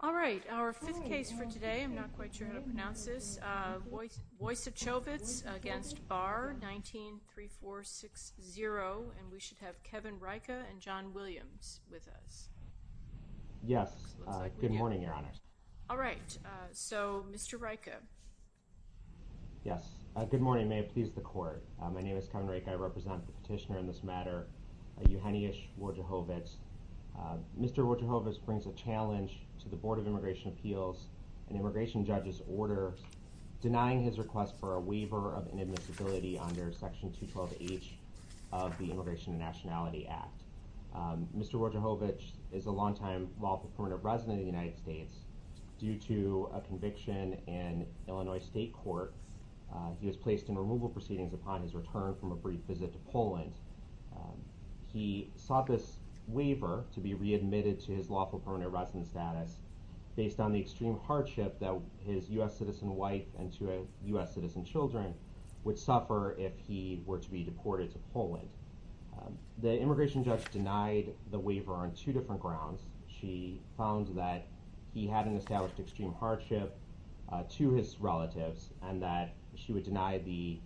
All right. Our fifth case for today, I'm not quite sure how to pronounce this, Wojciechowicz against Barr, 19-3460. And we should have Kevin Rieke and John Williams with us. Yes. Good morning, Your Honors. All right. So, Mr. Rieke. Yes. Good morning. May it please the Court. My name is Kevin Rieke. I represent the petitioner in this matter, Eugeniusz Wojciechowicz. Mr. Wojciechowicz brings a challenge to the Board of Immigration Appeals, an immigration judge's order denying his request for a waiver of inadmissibility under Section 212H of the Immigration and Nationality Act. Mr. Wojciechowicz is a long-time lawful permanent resident of the United States. Due to a conviction in Illinois State Court, he was placed in removal proceedings upon his return from a brief visit to Poland. He sought this waiver to be readmitted to his lawful permanent resident status based on the extreme hardship that his U.S. citizen wife and two U.S. citizen children would suffer if he were to be deported to Poland. The immigration judge denied the waiver on two different grounds. She found that he had an established extreme hardship to his relatives and that she would deny the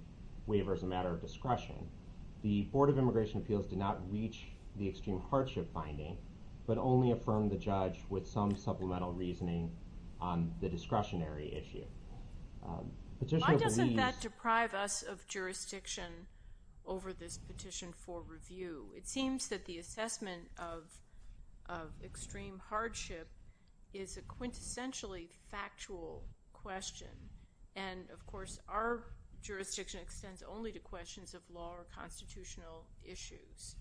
waiver as a matter of discretion. The Board of Immigration Appeals did not reach the extreme hardship finding but only affirmed the judge with some supplemental reasoning on the discretionary issue. Why doesn't that deprive us of jurisdiction over this petition for review? It seems that the assessment of extreme hardship is a quintessentially factual question, and of course our jurisdiction extends only to questions of law or constitutional issues.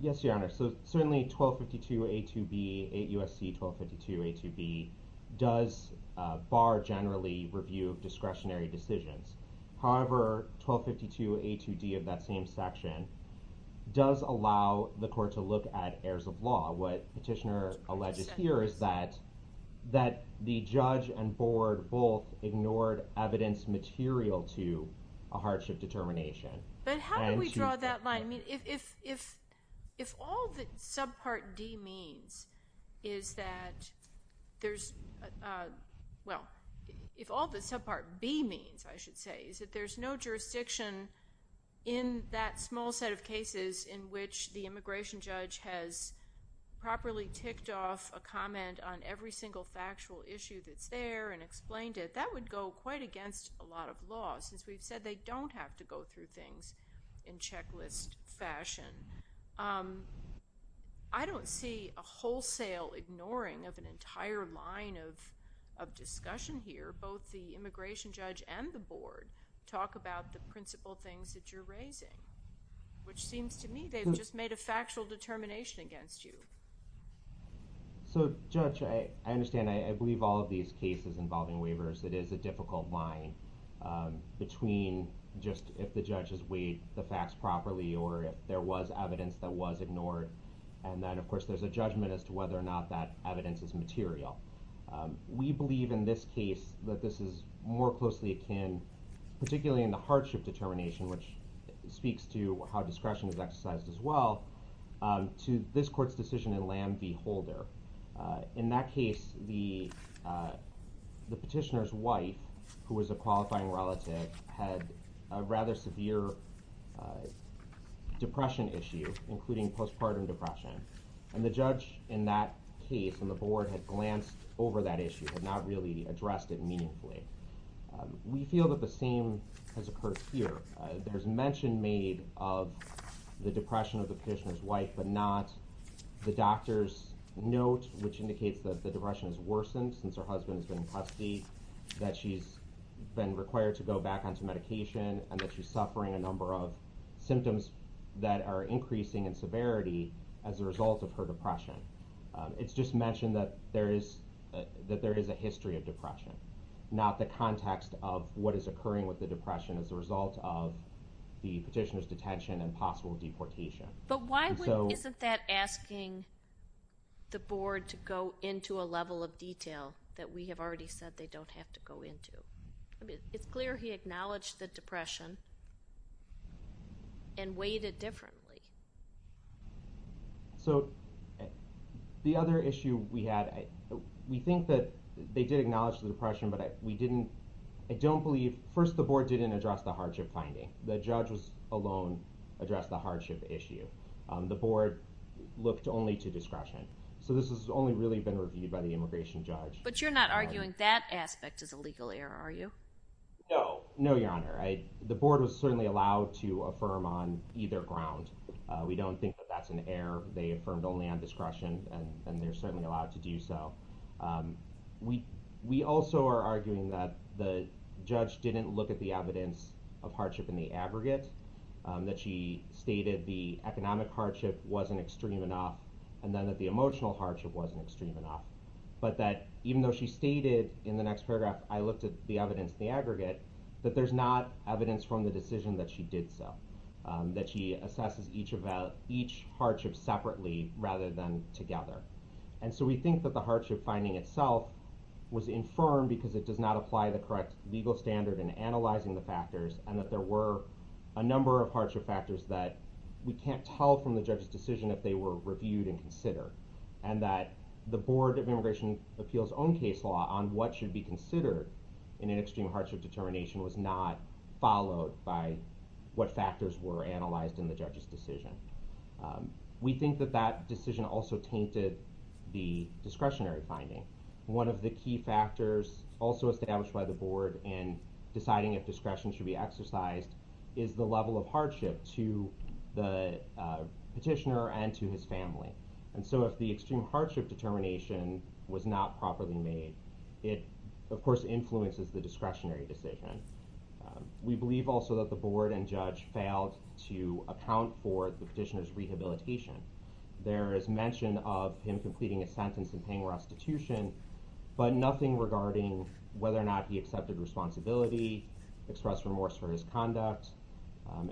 Yes, Your Honor. So certainly 1252A2B, 8 U.S.C. 1252A2B does bar generally review of discretionary decisions. However, 1252A2D of that same section does allow the court to look at heirs of law. What Petitioner alleges here is that the judge and board both ignored evidence material to a hardship determination. But how do we draw that line? If all that subpart D means is that there's—well, if all that subpart B means, I should say, is that there's no jurisdiction in that small set of cases in which the immigration judge has properly ticked off a comment on every single factual issue that's there and explained it, that would go quite against a lot of law, since we've said they don't have to go through things in checklist fashion. I don't see a wholesale ignoring of an entire line of discussion here, where both the immigration judge and the board talk about the principal things that you're raising, which seems to me they've just made a factual determination against you. So, Judge, I understand. I believe all of these cases involving waivers, it is a difficult line between just if the judge has weighed the facts properly or if there was evidence that was ignored, and then, of course, there's a judgment as to whether or not that evidence is material. We believe in this case that this is more closely akin, particularly in the hardship determination, which speaks to how discretion is exercised as well, to this court's decision in Lam v. Holder. In that case, the petitioner's wife, who was a qualifying relative, had a rather severe depression issue, including postpartum depression, and the judge in that case and the board had glanced over that issue, had not really addressed it meaningfully. We feel that the same has occurred here. There's mention made of the depression of the petitioner's wife, but not the doctor's note, which indicates that the depression has worsened since her husband has been in custody, that she's been required to go back onto medication, and that she's suffering a number of symptoms that are increasing in severity as a result of her depression. It's just mentioned that there is a history of depression, not the context of what is occurring with the depression as a result of the petitioner's detention and possible deportation. But why isn't that asking the board to go into a level of detail that we have already said they don't have to go into? It's clear he acknowledged the depression and weighed it differently. So the other issue we had, we think that they did acknowledge the depression, but I don't believe, first, the board didn't address the hardship finding. The judge alone addressed the hardship issue. The board looked only to discretion. So this has only really been reviewed by the immigration judge. But you're not arguing that aspect is a legal error, are you? No. No, Your Honor. The board was certainly allowed to affirm on either ground. We don't think that that's an error. They affirmed only on discretion, and they're certainly allowed to do so. We also are arguing that the judge didn't look at the evidence of hardship in the aggregate, that she stated the economic hardship wasn't extreme enough, and then that the emotional hardship wasn't extreme enough, but that even though she stated in the next paragraph, I looked at the evidence in the aggregate, that there's not evidence from the decision that she did so, that she assesses each hardship separately rather than together. And so we think that the hardship finding itself was infirm because it does not apply the correct legal standard in analyzing the factors and that there were a number of hardship factors that we can't tell from the judge's decision if they were reviewed and considered, and that the Board of Immigration Appeals' own case law on what should be considered in an extreme hardship determination was not followed by what factors were analyzed in the judge's decision. We think that that decision also tainted the discretionary finding. One of the key factors also established by the board in deciding if discretion should be exercised is the level of hardship to the petitioner and to his family. And so if the extreme hardship determination was not properly made, it, of course, influences the discretionary decision. We believe also that the board and judge failed to account for the petitioner's rehabilitation. There is mention of him completing a sentence and paying restitution, but nothing regarding whether or not he accepted responsibility, expressed remorse for his conduct,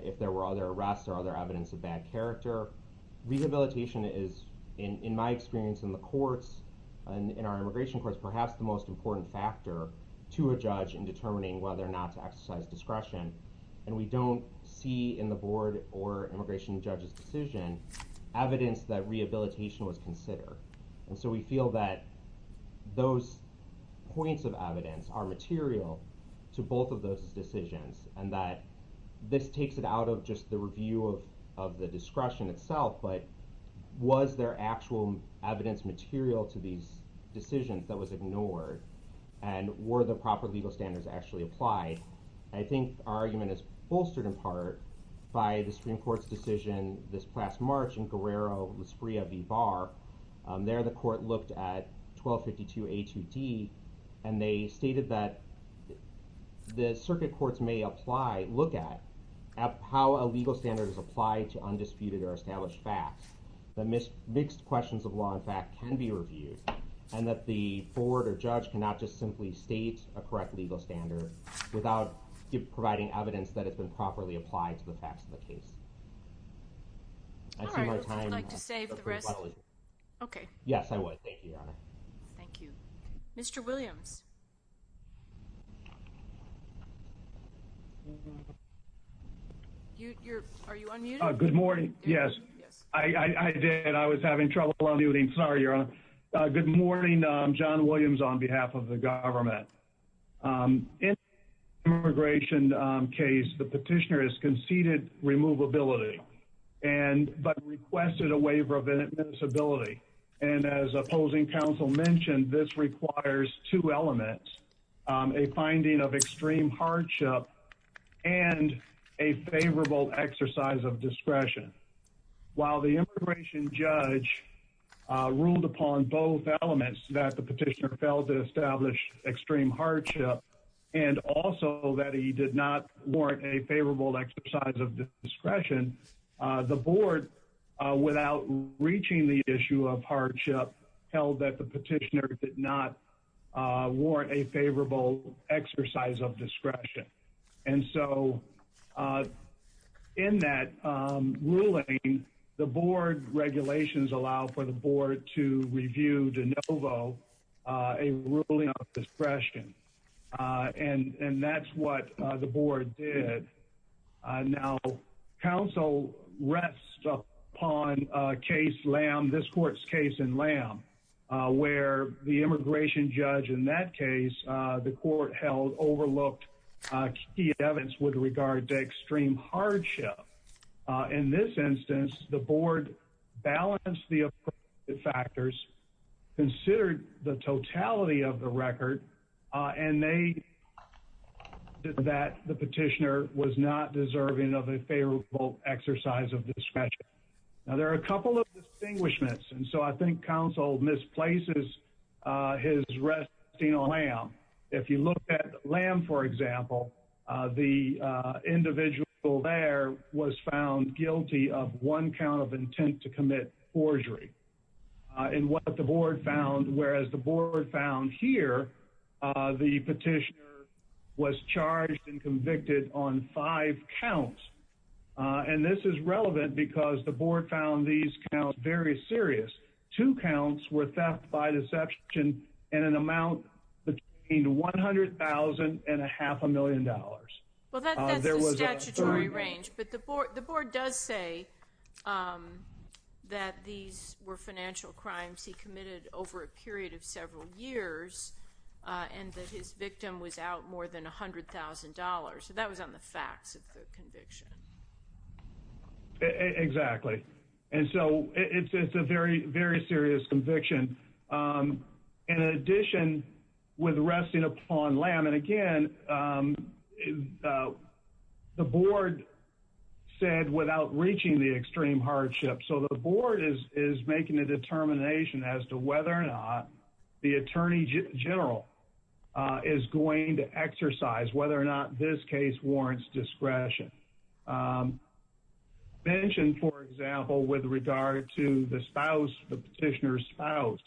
if there were other arrests or other evidence of bad character. Rehabilitation is, in my experience in the courts, in our immigration courts, perhaps the most important factor to a judge in determining whether or not to exercise discretion, and we don't see in the board or immigration judge's decision evidence that rehabilitation was considered. And so we feel that those points of evidence are material to both of those decisions and that this takes it out of just the review of the discretion itself, but was there actual evidence material to these decisions that was ignored? And were the proper legal standards actually applied? I think our argument is bolstered in part by the Supreme Court's decision this past March in Guerrero-Lasprilla v. Barr. There the court looked at 1252a2d, and they stated that the circuit courts may apply, look at, how a legal standard is applied to undisputed or established facts, that mixed questions of law and fact can be reviewed, and that the board or judge cannot just simply state a correct legal standard without providing evidence that it's been properly applied to the facts of the case. All right, would you like to save the rest? Okay. Yes, I would. Thank you, Your Honor. Thank you. Mr. Williams. Are you unmuted? Good morning. Yes, I did. I was having trouble unmuting. Sorry, Your Honor. Good morning. I'm John Williams on behalf of the government. In the immigration case, the petitioner has conceded removability but requested a waiver of admissibility. And as opposing counsel mentioned, this requires two elements, a finding of extreme hardship and a favorable exercise of discretion. While the immigration judge ruled upon both elements, that the petitioner failed to establish extreme hardship and also that he did not warrant a favorable exercise of discretion, the board, without reaching the issue of hardship, held that the petitioner did not warrant a favorable exercise of discretion. And so in that ruling, the board regulations allow for the board to review de novo a ruling of discretion. And that's what the board did. Now, counsel rests upon this court's case in Lamb, where the immigration judge in that case, the court held, overlooked key evidence with regard to extreme hardship. In this instance, the board balanced the appropriate factors, considered the totality of the record, and they concluded that the petitioner was not deserving of a favorable exercise of discretion. Now, there are a couple of distinguishments, and so I think counsel misplaces his resting on Lamb. If you look at Lamb, for example, the individual there was found guilty of one count of intent to commit forgery. And what the board found, whereas the board found here, the petitioner was charged and convicted on five counts. And this is relevant because the board found these counts very serious. Two counts were theft by deception in an amount between $100,000 and a half a million. Well, that's the statutory range, but the board does say that these were financial crimes he committed over a period of several years and that his victim was out more than $100,000. So that was on the facts of the conviction. Exactly. And so it's a very, very serious conviction. In addition, with resting upon Lamb, and again, the board said without reaching the extreme hardship. So the board is making a determination as to whether or not the attorney general is going to exercise whether or not this case warrants discretion. Mentioned, for example, with regard to the spouse, the petitioner's spouse,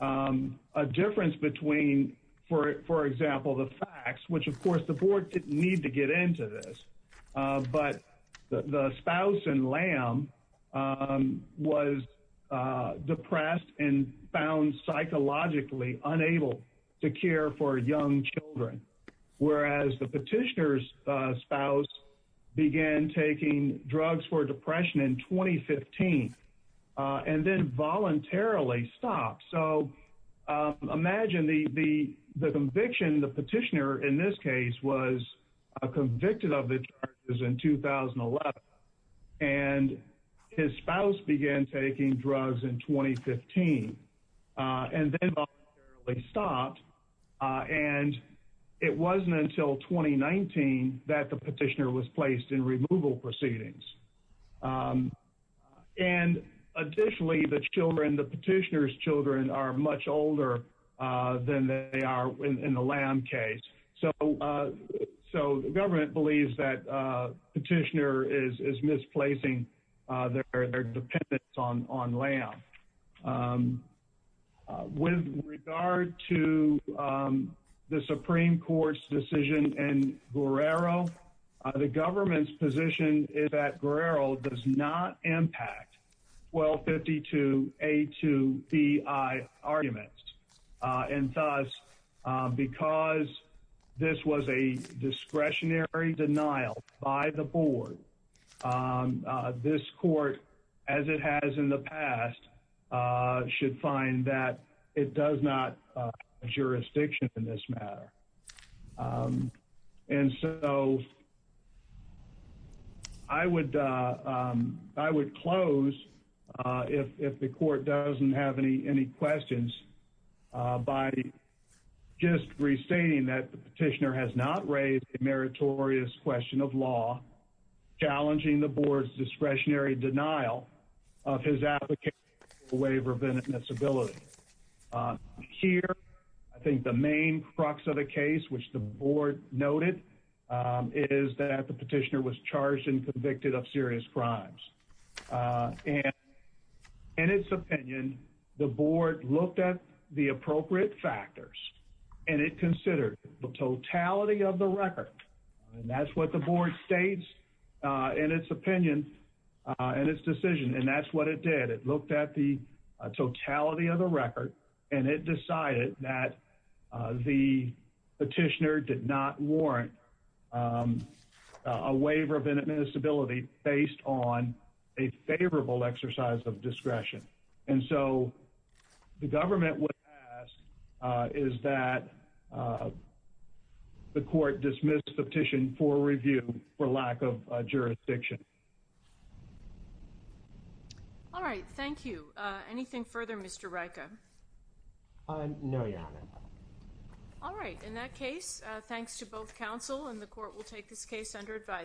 a difference between, for example, the facts, which of course the board didn't need to get into this, but the spouse in Lamb was depressed and found psychologically unable to The petitioner's spouse began taking drugs for depression in 2015 and then voluntarily stopped. So imagine the conviction, the petitioner in this case, was convicted of the charges in 2011. And his spouse began taking drugs in 2015 and then voluntarily stopped. And it wasn't until 2019 that the petitioner was placed in removal proceedings. And additionally, the children, the petitioner's children are much older than they are in the Lamb case. So the government believes that petitioner is misplacing their dependence on Lamb. With regard to the Supreme Court's decision in Guerrero, the government's position is that Guerrero does not impact 1252A2BI arguments. And thus, because this was a discretionary denial by the board, this court, as it has in the past, should find that it does not have jurisdiction in this matter. And so I would close, if the court doesn't have any questions, by just restating that the petitioner has not raised a meritorious question of law, challenging the board's discretionary denial of his application for a waiver of inadmissibility. Here, I think the main crux of the case, which the board noted, is that the petitioner was charged and convicted of serious crimes. And in its opinion, the board looked at the appropriate factors and it looked at the totality of the record and it decided that the petitioner did not warrant a waiver of inadmissibility based on a favorable exercise of discretion. And so the government would ask, is that the court dismiss the petition for review? For lack of jurisdiction. All right. Thank you. Anything further, Mr. Rieke? No, Your Honor. All right. In that case, thanks to both counsel, and the court will take this case under advisory.